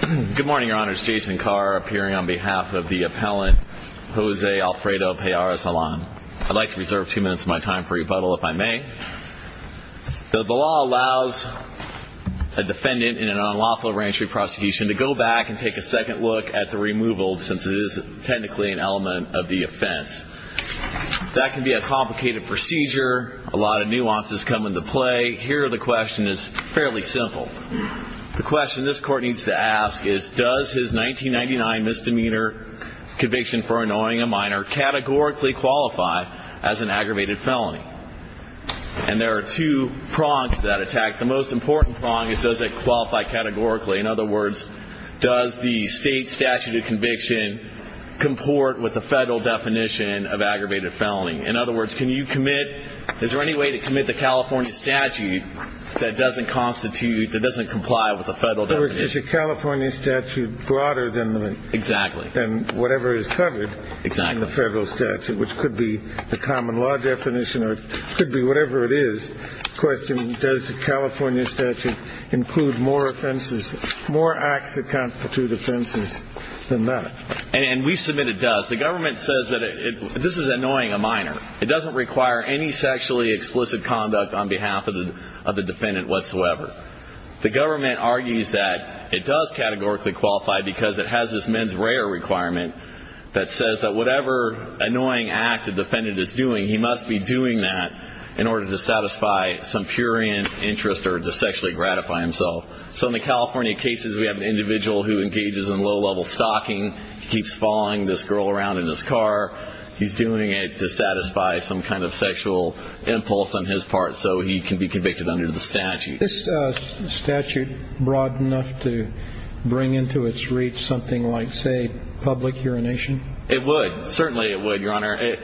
Good morning, your honors. Jason Carr appearing on behalf of the appellant Jose Alfredo Pallares-Galan. I'd like to reserve two minutes of my time for rebuttal if I may. The law allows a defendant in an unlawful re-entry prosecution to go back and take a second look at the removal since it is technically an element of the offense. That can be a complicated procedure. A lot of nuances come into play. Here the question is fairly simple. The question this court needs to ask is does his 1999 misdemeanor conviction for annoying a minor categorically qualify as an aggravated felony? And there are two prongs to that attack. The most important prong is does it qualify categorically? In other words, does the state statute of conviction comport with the federal definition of aggravated felony? In other words, is there any way to commit the California statute that doesn't comply with the federal definition? It's a California statute broader than whatever is covered in the federal statute, which could be the common law definition or it could be whatever it is. The question is does the California statute include more acts that constitute offenses than that? And we submit it does. The government says that this is annoying a minor. It doesn't require any sexually explicit conduct on behalf of the defendant whatsoever. The government argues that it does categorically qualify because it has this mens rea requirement that says that whatever annoying act a defendant is doing, he must be doing that in order to satisfy some purient interest or to sexually gratify himself. So in the California cases, we have an individual who engages in low-level stalking. He keeps following this girl around in his car. He's doing it to satisfy some kind of sexual impulse on his part so he can be convicted under the statute. Is the statute broad enough to bring into its reach something like, say, public urination? It would. Certainly it would, Your Honor.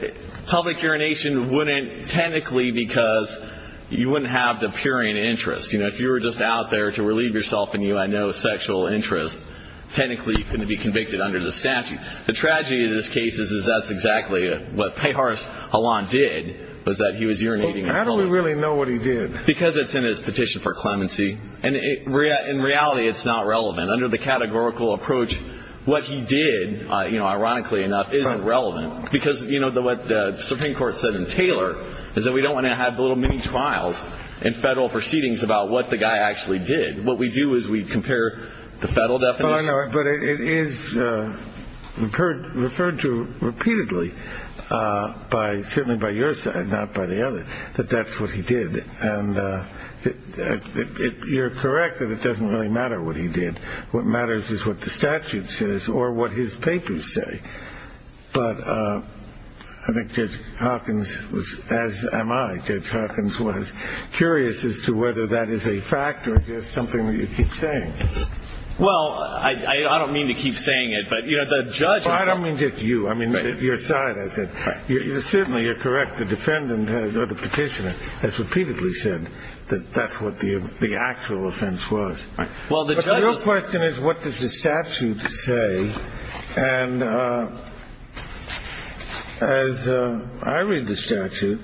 Public urination wouldn't technically because you wouldn't have the purient interest. You know, if you were just out there to relieve yourself and you had no sexual interest, technically you couldn't be convicted under the statute. The tragedy of this case is that's exactly what Pejars-Halland did was that he was urinating in public. How do we really know what he did? Because it's in his petition for clemency. And in reality, it's not relevant. Under the categorical approach, what he did, you know, ironically enough, isn't relevant because, you know, what the Supreme Court said in Taylor is that we don't want to have little mini trials and federal proceedings about what the guy actually did. What we do is we compare the federal definition. But it is referred to repeatedly by certainly by your side, not by the other, that that's what he did. And you're correct that it doesn't really matter what he did. What matters is what the statute says or what his papers say. But I think Judge Hawkins was, as am I, Judge Hawkins was curious as to whether that is a fact or just something that you keep saying. Well, I don't mean to keep saying it, but, you know, the judge. I don't mean just you. I mean, your side has it. Certainly, you're correct. The defendant or the petitioner has repeatedly said that that's what the actual offense was. Well, the question is, what does the statute say? And as I read the statute,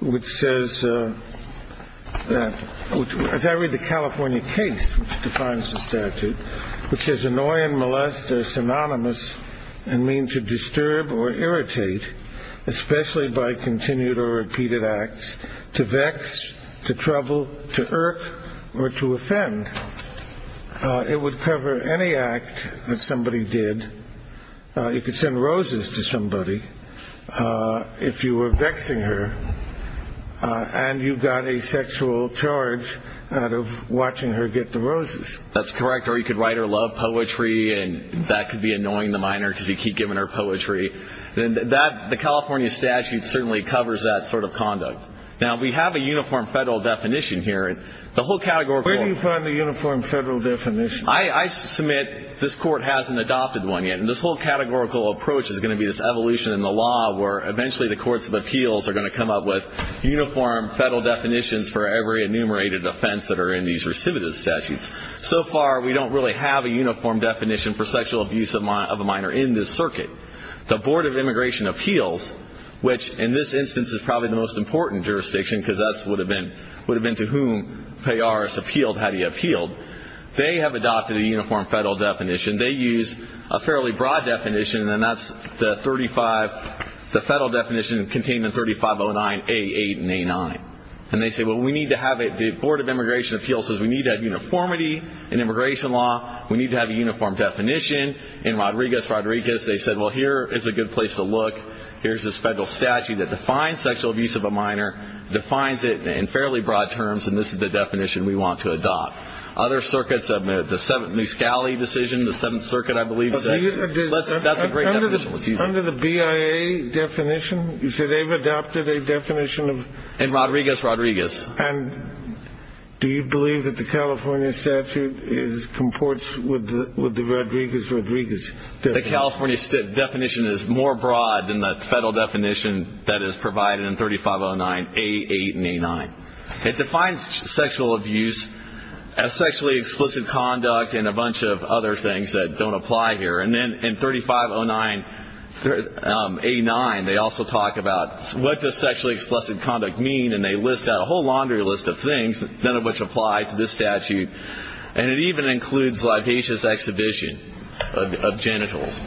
which says that as I read the California case, which defines the statute, which is annoying, molested, synonymous and mean to disturb or irritate, especially by continued or repeated acts to vex, to trouble, to irk or to offend. It would cover any act that somebody did. You could send roses to somebody if you were vexing her and you got a sexual charge out of watching her get the roses. That's correct. Or you could write or love poetry. And that could be annoying the minor because you keep giving her poetry. And the California statute certainly covers that sort of conduct. Now, we have a uniform federal definition here. The whole categorical. Where do you find the uniform federal definition? I submit this Court hasn't adopted one yet. And this whole categorical approach is going to be this evolution in the law where eventually the courts of appeals are going to come up with uniform federal definitions for every enumerated offense that are in these recidivist statutes. So far, we don't really have a uniform definition for sexual abuse of a minor in this circuit. The Board of Immigration Appeals, which in this instance is probably the most important jurisdiction because that would have been to whom Peyaris appealed had he appealed, they have adopted a uniform federal definition. They use a fairly broad definition, and that's the federal definition contained in 3509A8 and A9. And they say, well, we need to have it. The Board of Immigration Appeals says we need to have uniformity in immigration law. We need to have a uniform definition. In Rodriguez-Rodriguez, they said, well, here is a good place to look. Here's this federal statute that defines sexual abuse of a minor, defines it in fairly broad terms, and this is the definition we want to adopt. Other circuits have made the New Scali decision, the Seventh Circuit, I believe. That's a great definition. Under the BIA definition, you say they've adopted a definition of? In Rodriguez-Rodriguez. And do you believe that the California statute comports with the Rodriguez-Rodriguez definition? The California definition is more broad than the federal definition that is provided in 3509A8 and A9. It defines sexual abuse as sexually explicit conduct and a bunch of other things that don't apply here. And then in 3509A9, they also talk about what does sexually explicit conduct mean, and they list out a whole laundry list of things, none of which apply to this statute. And it even includes libasious exhibition of genitals.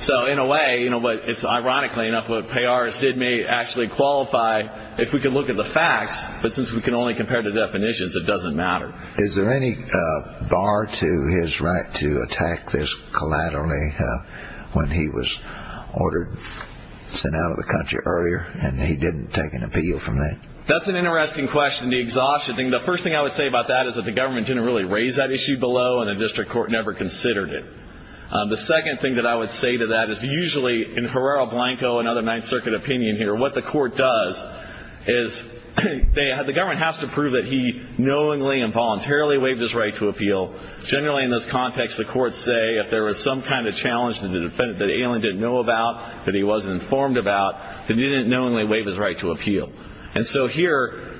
So in a way, you know what, it's ironically enough what Peyaris did may actually qualify if we could look at the facts, but since we can only compare the definitions, it doesn't matter. Is there any bar to his right to attack this collaterally when he was ordered, sent out of the country earlier, and he didn't take an appeal from that? That's an interesting question, the exhaustion thing. The first thing I would say about that is that the government didn't really raise that issue below, and the district court never considered it. The second thing that I would say to that is usually in Herrera Blanco and other Ninth Circuit opinion here, what the court does is the government has to prove that he knowingly and voluntarily waived his right to appeal. Generally in this context, the courts say if there was some kind of challenge that the defendant didn't know about, that he wasn't informed about, that he didn't knowingly waive his right to appeal. And so here,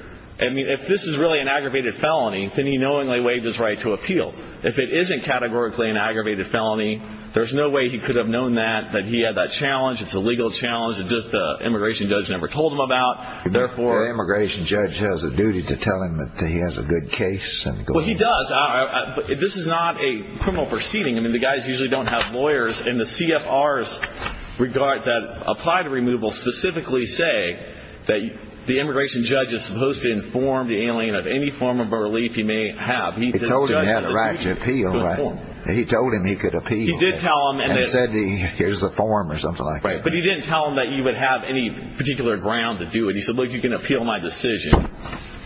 I mean, if this is really an aggravated felony, then he knowingly waived his right to appeal. If it isn't categorically an aggravated felony, there's no way he could have known that, that he had that challenge. It's a legal challenge. It's just the immigration judge never told him about. The immigration judge has a duty to tell him that he has a good case and go on. Well, he does. This is not a criminal proceeding. I mean, the guys usually don't have lawyers in the CFR's regard that apply to removal, specifically say that the immigration judge is supposed to inform the alien of any form of a relief he may have. He told him he had a right to appeal. He told him he could appeal. He did tell him. And he said, here's the form or something like that. Right, but he didn't tell him that he would have any particular ground to do it. He said, look, you can appeal my decision.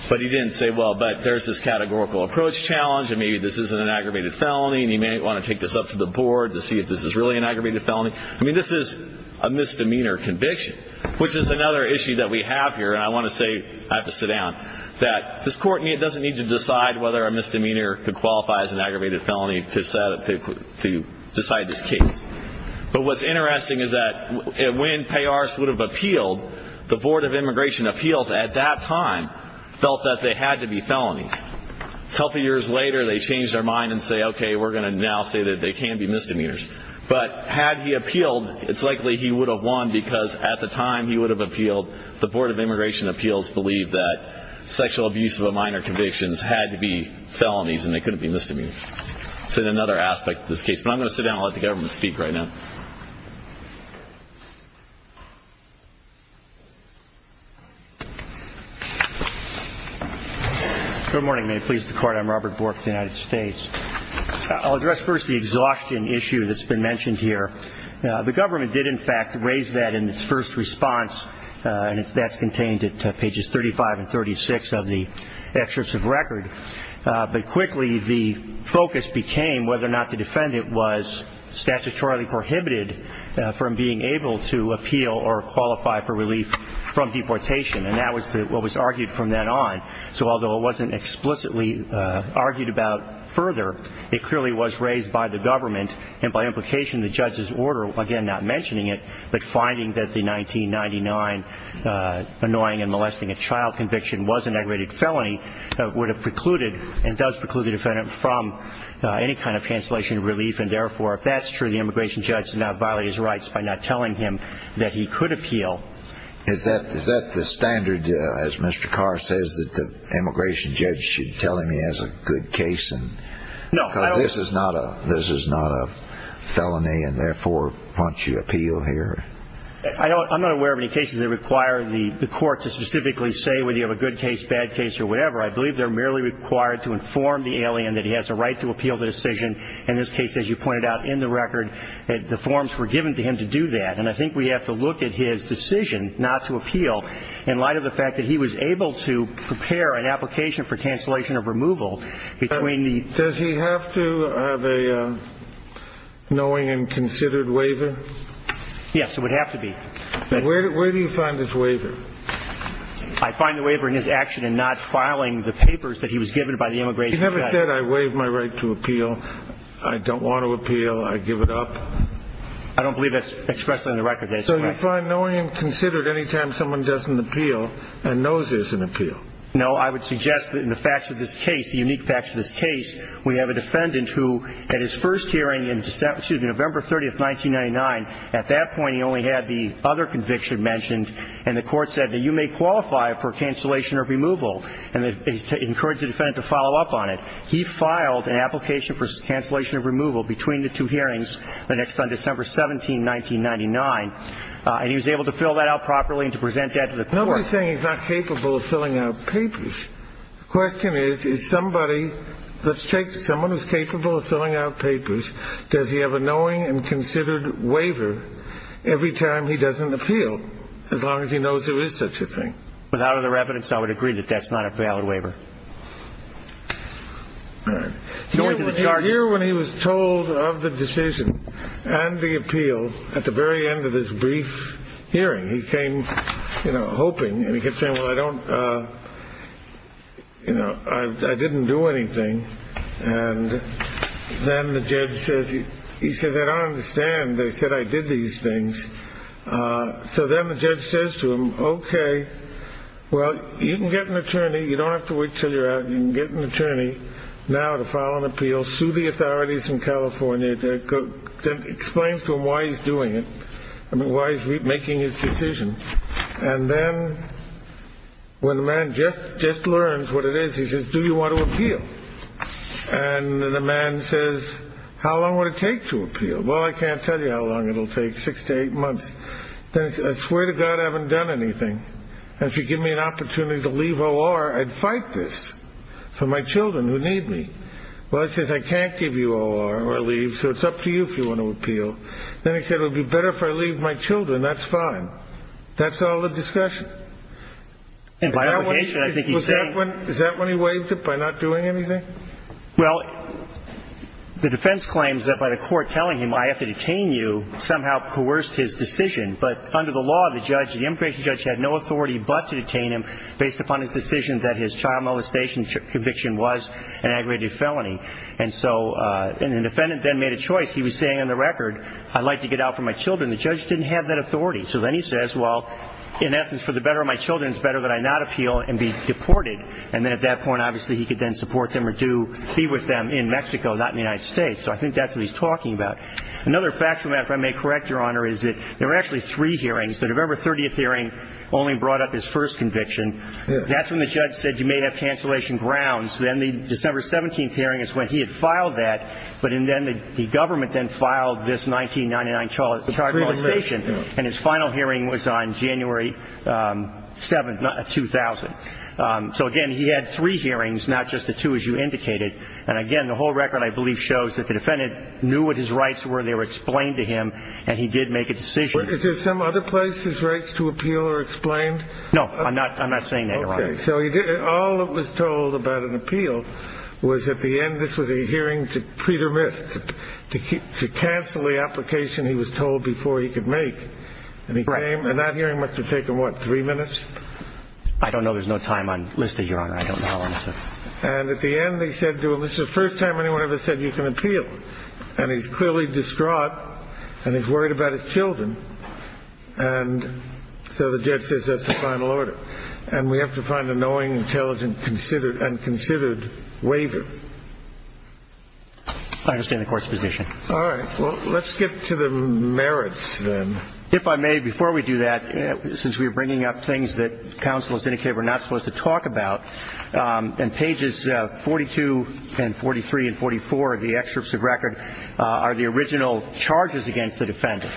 But he didn't say, well, but there's this categorical approach challenge, and maybe this isn't an aggravated felony, and he may want to take this up to the board to see if this is really an aggravated felony. I mean, this is a misdemeanor conviction, which is another issue that we have here, and I want to say, I have to sit down, that this court doesn't need to decide whether a misdemeanor could qualify as an aggravated felony to decide this case. But what's interesting is that when Peyaris would have appealed, the Board of Immigration Appeals at that time felt that they had to be felonies. A couple years later, they changed their mind and said, okay, we're going to now say that they can be misdemeanors. But had he appealed, it's likely he would have won because at the time he would have appealed, the Board of Immigration Appeals believed that sexual abuse of a minor conviction had to be felonies and they couldn't be misdemeanors. It's another aspect of this case. But I'm going to sit down and let the government speak right now. Good morning. May it please the Court. I'm Robert Bork of the United States. I'll address first the exhaustion issue that's been mentioned here. The government did, in fact, raise that in its first response, and that's contained at pages 35 and 36 of the excerpt of record. But quickly the focus became whether or not the defendant was statutorily prohibited from being able to appeal or qualify for relief from deportation, and that was what was argued from then on. So although it wasn't explicitly argued about further, it clearly was raised by the government and by implication the judge's order, again, not mentioning it, but finding that the 1999 annoying and molesting a child conviction was an aggravated felony, would have precluded and does preclude the defendant from any kind of cancellation of relief, and therefore if that's true, the immigration judge should not violate his rights by not telling him that he could appeal. Is that the standard, as Mr. Carr says, that the immigration judge should tell him he has a good case? Because this is not a felony, and therefore why don't you appeal here? I'm not aware of any cases that require the court to specifically say whether you have a good case, bad case, or whatever. I believe they're merely required to inform the alien that he has a right to appeal the decision. In this case, as you pointed out in the record, the forms were given to him to do that, and I think we have to look at his decision not to appeal in light of the fact that he was able to prepare an application for cancellation of removal between the... Does he have to have a knowing and considered waiver? Yes, it would have to be. Where do you find this waiver? I find the waiver in his action in not filing the papers that he was given by the immigration judge. He never said, I waive my right to appeal, I don't want to appeal, I give it up? I don't believe that's expressed in the record. So you find knowing and considered any time someone doesn't appeal and knows there's an appeal? No, I would suggest that in the facts of this case, the unique facts of this case, we have a defendant who at his first hearing in November 30, 1999, at that point he only had the other conviction mentioned, and the court said that you may qualify for cancellation of removal, and it encouraged the defendant to follow up on it. He filed an application for cancellation of removal between the two hearings the next time, December 17, 1999, and he was able to fill that out properly and to present that to the court. But nobody's saying he's not capable of filling out papers. The question is, is somebody, let's take someone who's capable of filling out papers, does he have a knowing and considered waiver every time he doesn't appeal, as long as he knows there is such a thing? Without other evidence, I would agree that that's not a valid waiver. Here when he was told of the decision and the appeal at the very end of this brief hearing, he came, you know, hoping, and he kept saying, well, I don't, you know, I didn't do anything. And then the judge says, he said, I don't understand. They said I did these things. So then the judge says to him, okay, well, you can get an attorney. You don't have to wait until you're out. You can get an attorney now to file an appeal, sue the authorities in California, then explains to him why he's doing it and why he's making his decision. And then when the man just learns what it is, he says, do you want to appeal? And then the man says, how long would it take to appeal? Well, I can't tell you how long it'll take, six to eight months. Then he says, I swear to God I haven't done anything. And if you give me an opportunity to leave OR, I'd fight this for my children who need me. Well, he says, I can't give you OR or leave, so it's up to you if you want to appeal. Then he said, it would be better if I leave my children. That's fine. That's all the discussion. And by obligation, I think he's saying. Is that when he waived it by not doing anything? Well, the defense claims that by the court telling him, I have to detain you, somehow coerced his decision. But under the law, the judge, the immigration judge had no authority but to detain him based upon his decision that his child molestation conviction was an aggravated felony. And so the defendant then made a choice. He was saying on the record, I'd like to get out for my children. The judge didn't have that authority. So then he says, well, in essence, for the better of my children, it's better that I not appeal and be deported. And then at that point, obviously, he could then support them or be with them in Mexico, not in the United States. So I think that's what he's talking about. Another fact from that, if I may correct, Your Honor, is that there were actually three hearings. The November 30th hearing only brought up his first conviction. That's when the judge said you may have cancellation grounds. Then the December 17th hearing is when he had filed that. But then the government then filed this 1999 child molestation. And his final hearing was on January 7th, 2000. So, again, he had three hearings, not just the two as you indicated. And, again, the whole record, I believe, shows that the defendant knew what his rights were. They were explained to him. And he did make a decision. Is there some other place his rights to appeal are explained? No, I'm not saying that, Your Honor. Okay. So all that was told about an appeal was at the end, this was a hearing to cancel the application he was told before he could make. And that hearing must have taken, what, three minutes? I don't know. There's no time on the list, Your Honor. I don't know. And at the end, they said, well, this is the first time anyone ever said you can appeal. And he's clearly distraught, and he's worried about his children. And so the judge says that's the final order. And we have to find a knowing, intelligent, and considered waiver. I understand the Court's position. All right. Well, let's get to the merits then. If I may, before we do that, since we are bringing up things that counsel has indicated we're not supposed to talk about, in pages 42 and 43 and 44 of the excerpts of record are the original charges against the defendant.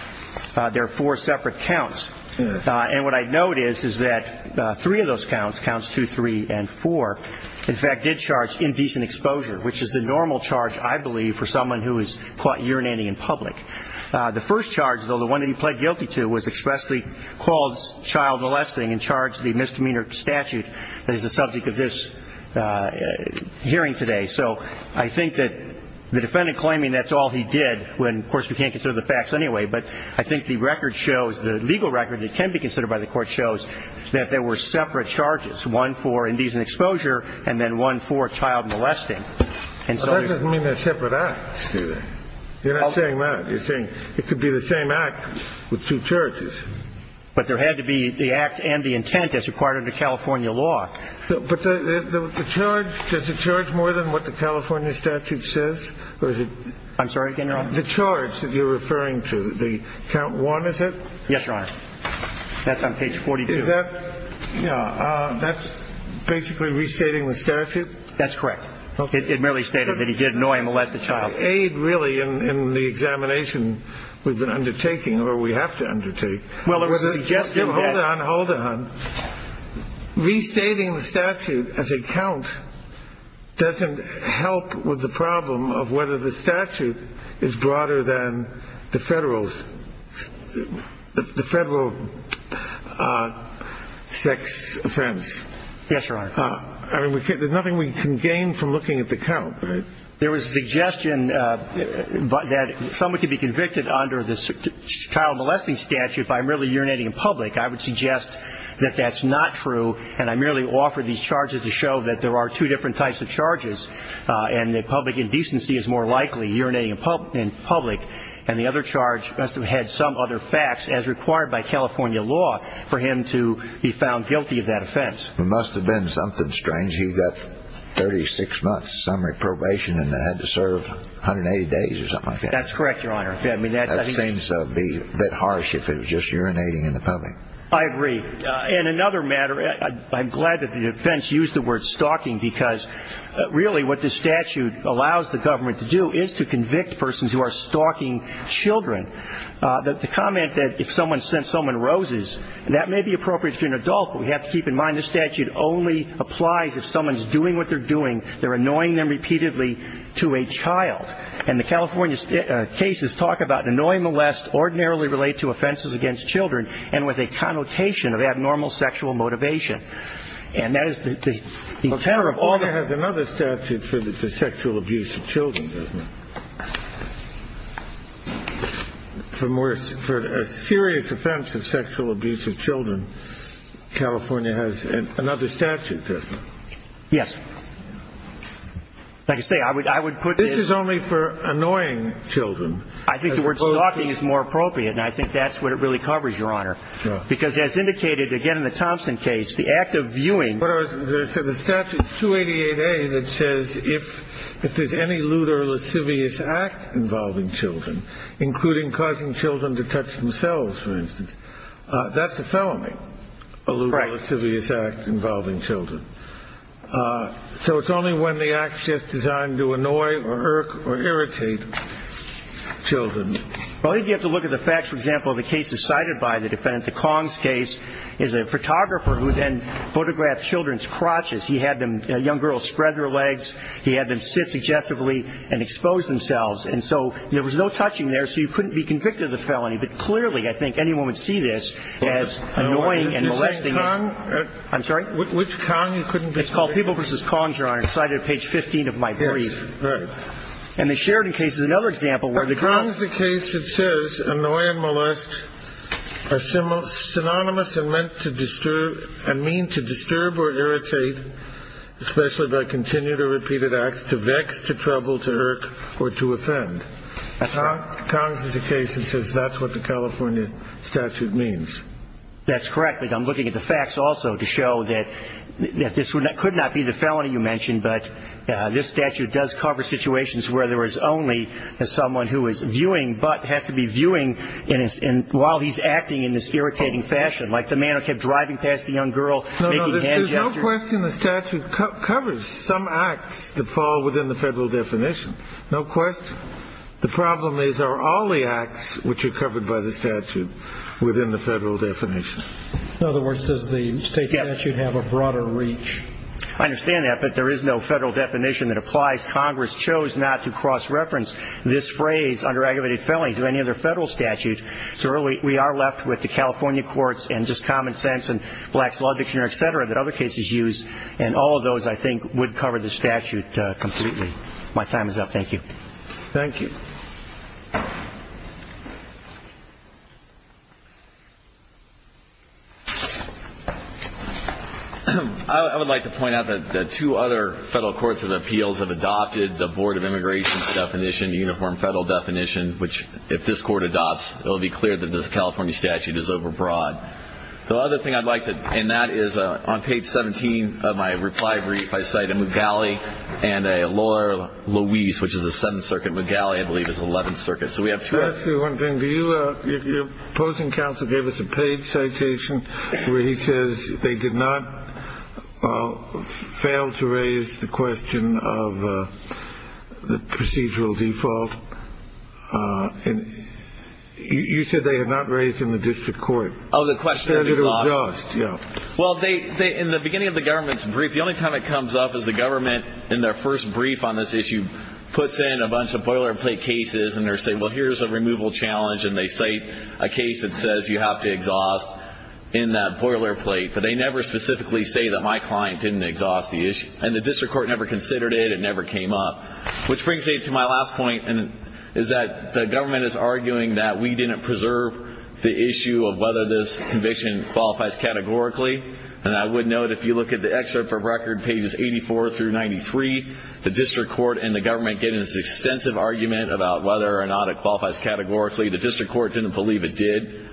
There are four separate counts. And what I note is that three of those counts, counts 2, 3, and 4, in fact, did charge indecent exposure, which is the normal charge, I believe, for someone who is caught urinating in public. The first charge, though, the one that he pled guilty to, was expressly called child molesting and charged the misdemeanor statute that is the subject of this hearing today. So I think that the defendant claiming that's all he did, when, of course, we can't consider the facts anyway, but I think the record shows, the legal record that can be considered by the Court, shows that there were separate charges, one for indecent exposure and then one for child molesting. That doesn't mean they're separate acts, do they? You're not saying that. You're saying it could be the same act with two charges. But there had to be the act and the intent as required under California law. But the charge, does it charge more than what the California statute says? I'm sorry, General? The charge that you're referring to, the count 1, is it? Yes, Your Honor. That's on page 42. Is that, you know, that's basically restating the statute? That's correct. It merely stated that he did annoy and molest a child. There's no aid, really, in the examination we've been undertaking or we have to undertake. Well, there was a suggestion that – Hold on, hold on. Restating the statute as a count doesn't help with the problem of whether the statute is broader than the federal sex offense. Yes, Your Honor. I mean, there's nothing we can gain from looking at the count. There was a suggestion that someone could be convicted under the child molesting statute by merely urinating in public. I would suggest that that's not true. And I merely offered these charges to show that there are two different types of charges and that public indecency is more likely, urinating in public. And the other charge must have had some other facts as required by California law for him to be found guilty of that offense. It must have been something strange. He got 36 months summary probation and had to serve 180 days or something like that. That's correct, Your Honor. That seems to be a bit harsh if it was just urinating in the public. I agree. And another matter – I'm glad that the defense used the word stalking because really what this statute allows the government to do is to convict persons who are stalking children. The comment that if someone sent someone roses, that may be appropriate to an adult, but we have to keep in mind this statute only applies if someone's doing what they're doing. They're annoying them repeatedly to a child. And the California cases talk about annoying molest ordinarily related to offenses against children and with a connotation of abnormal sexual motivation. And that is the tenor of all the – California has another statute for sexual abuse of children, doesn't it? For a serious offense of sexual abuse of children, California has another statute, doesn't it? Yes. Like I say, I would put this – This is only for annoying children. I think the word stalking is more appropriate, and I think that's what it really covers, Your Honor. Because as indicated, again, in the Thompson case, the act of viewing – The statute 288A that says if there's any lewd or lascivious act involving children, including causing children to touch themselves, for instance, that's a felony. Right. A lewd or lascivious act involving children. So it's only when the act's just designed to annoy or irritate children. Well, if you have to look at the facts, for example, the case cited by the defendant, the Kongs case, is a photographer who then photographed children's crotches. He had them – young girls spread their legs. He had them sit suggestively and expose themselves. And so there was no touching there, so you couldn't be convicted of the felony. But clearly, I think, anyone would see this as annoying and molesting. You say Kong? I'm sorry? Which Kong you couldn't be convicted of? It's called People v. Kongs, Your Honor. It's cited at page 15 of my brief. Yes, right. And the Sheridan case is another example where the – The Kongs case, it says, annoy and molest are synonymous and meant to disturb – and mean to disturb or irritate, especially by continued or repeated acts, to vex, to trouble, to irk, or to offend. That's right. The Kongs is a case that says that's what the California statute means. That's correct. But I'm looking at the facts also to show that this could not be the felony you mentioned, but this statute does cover situations where there is only someone who is viewing but has to be viewing while he's acting in this irritating fashion, like the man who kept driving past the young girl, making hand gestures. No, no, there's no question the statute covers some acts that fall within the federal definition. No question. The problem is are all the acts which are covered by the statute within the federal definition. In other words, does the state statute have a broader reach? I understand that, but there is no federal definition that applies. Congress chose not to cross-reference this phrase, under-aggravated felony, to any other federal statute. So really, we are left with the California courts and just common sense and black's law dictionary, et cetera, that other cases use, and all of those, I think, would cover the statute completely. My time is up. Thank you. Thank you. I would like to point out that the two other federal courts of appeals have adopted the Board of Immigration's definition, the uniform federal definition, which, if this court adopts, it will be clear that this California statute is overbroad. The other thing I'd like to, and that is on page 17 of my reply brief, I cite Mugali and a lawyer, Luis, which is the Seventh Circuit. Mugali, I believe, is the Eleventh Circuit. Can I ask you one thing? Your opposing counsel gave us a paid citation where he says they did not fail to raise the question of the procedural default. You said they had not raised in the district court. Oh, the question was off. Yeah. Well, in the beginning of the government's brief, the only time it comes up is the government, in their first brief on this issue, puts in a bunch of boilerplate cases, and they say, well, here's a removal challenge, and they cite a case that says you have to exhaust in that boilerplate. But they never specifically say that my client didn't exhaust the issue. And the district court never considered it. It never came up. Which brings me to my last point, is that the government is arguing that we didn't preserve the issue of whether this conviction qualifies categorically. And I would note, if you look at the excerpt from record, pages 84 through 93, the district court and the government get into this extensive argument about whether or not it qualifies categorically. The district court didn't believe it did,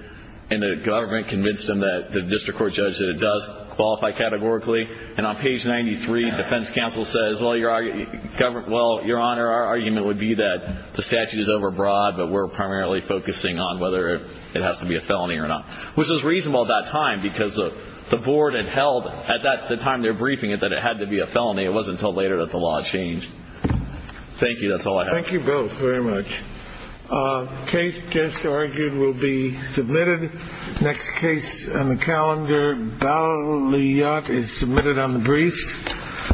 and the government convinced them that the district court judged that it does qualify categorically. And on page 93, defense counsel says, well, Your Honor, our argument would be that the statute is overbroad, but we're primarily focusing on whether it has to be a felony or not. Which was reasonable at that time, because the board had held, at the time they were briefing it, that it had to be a felony. It wasn't until later that the law changed. Thank you. That's all I have. Thank you both very much. The case just argued will be submitted. The next case on the calendar, Balliot, is submitted on the briefs.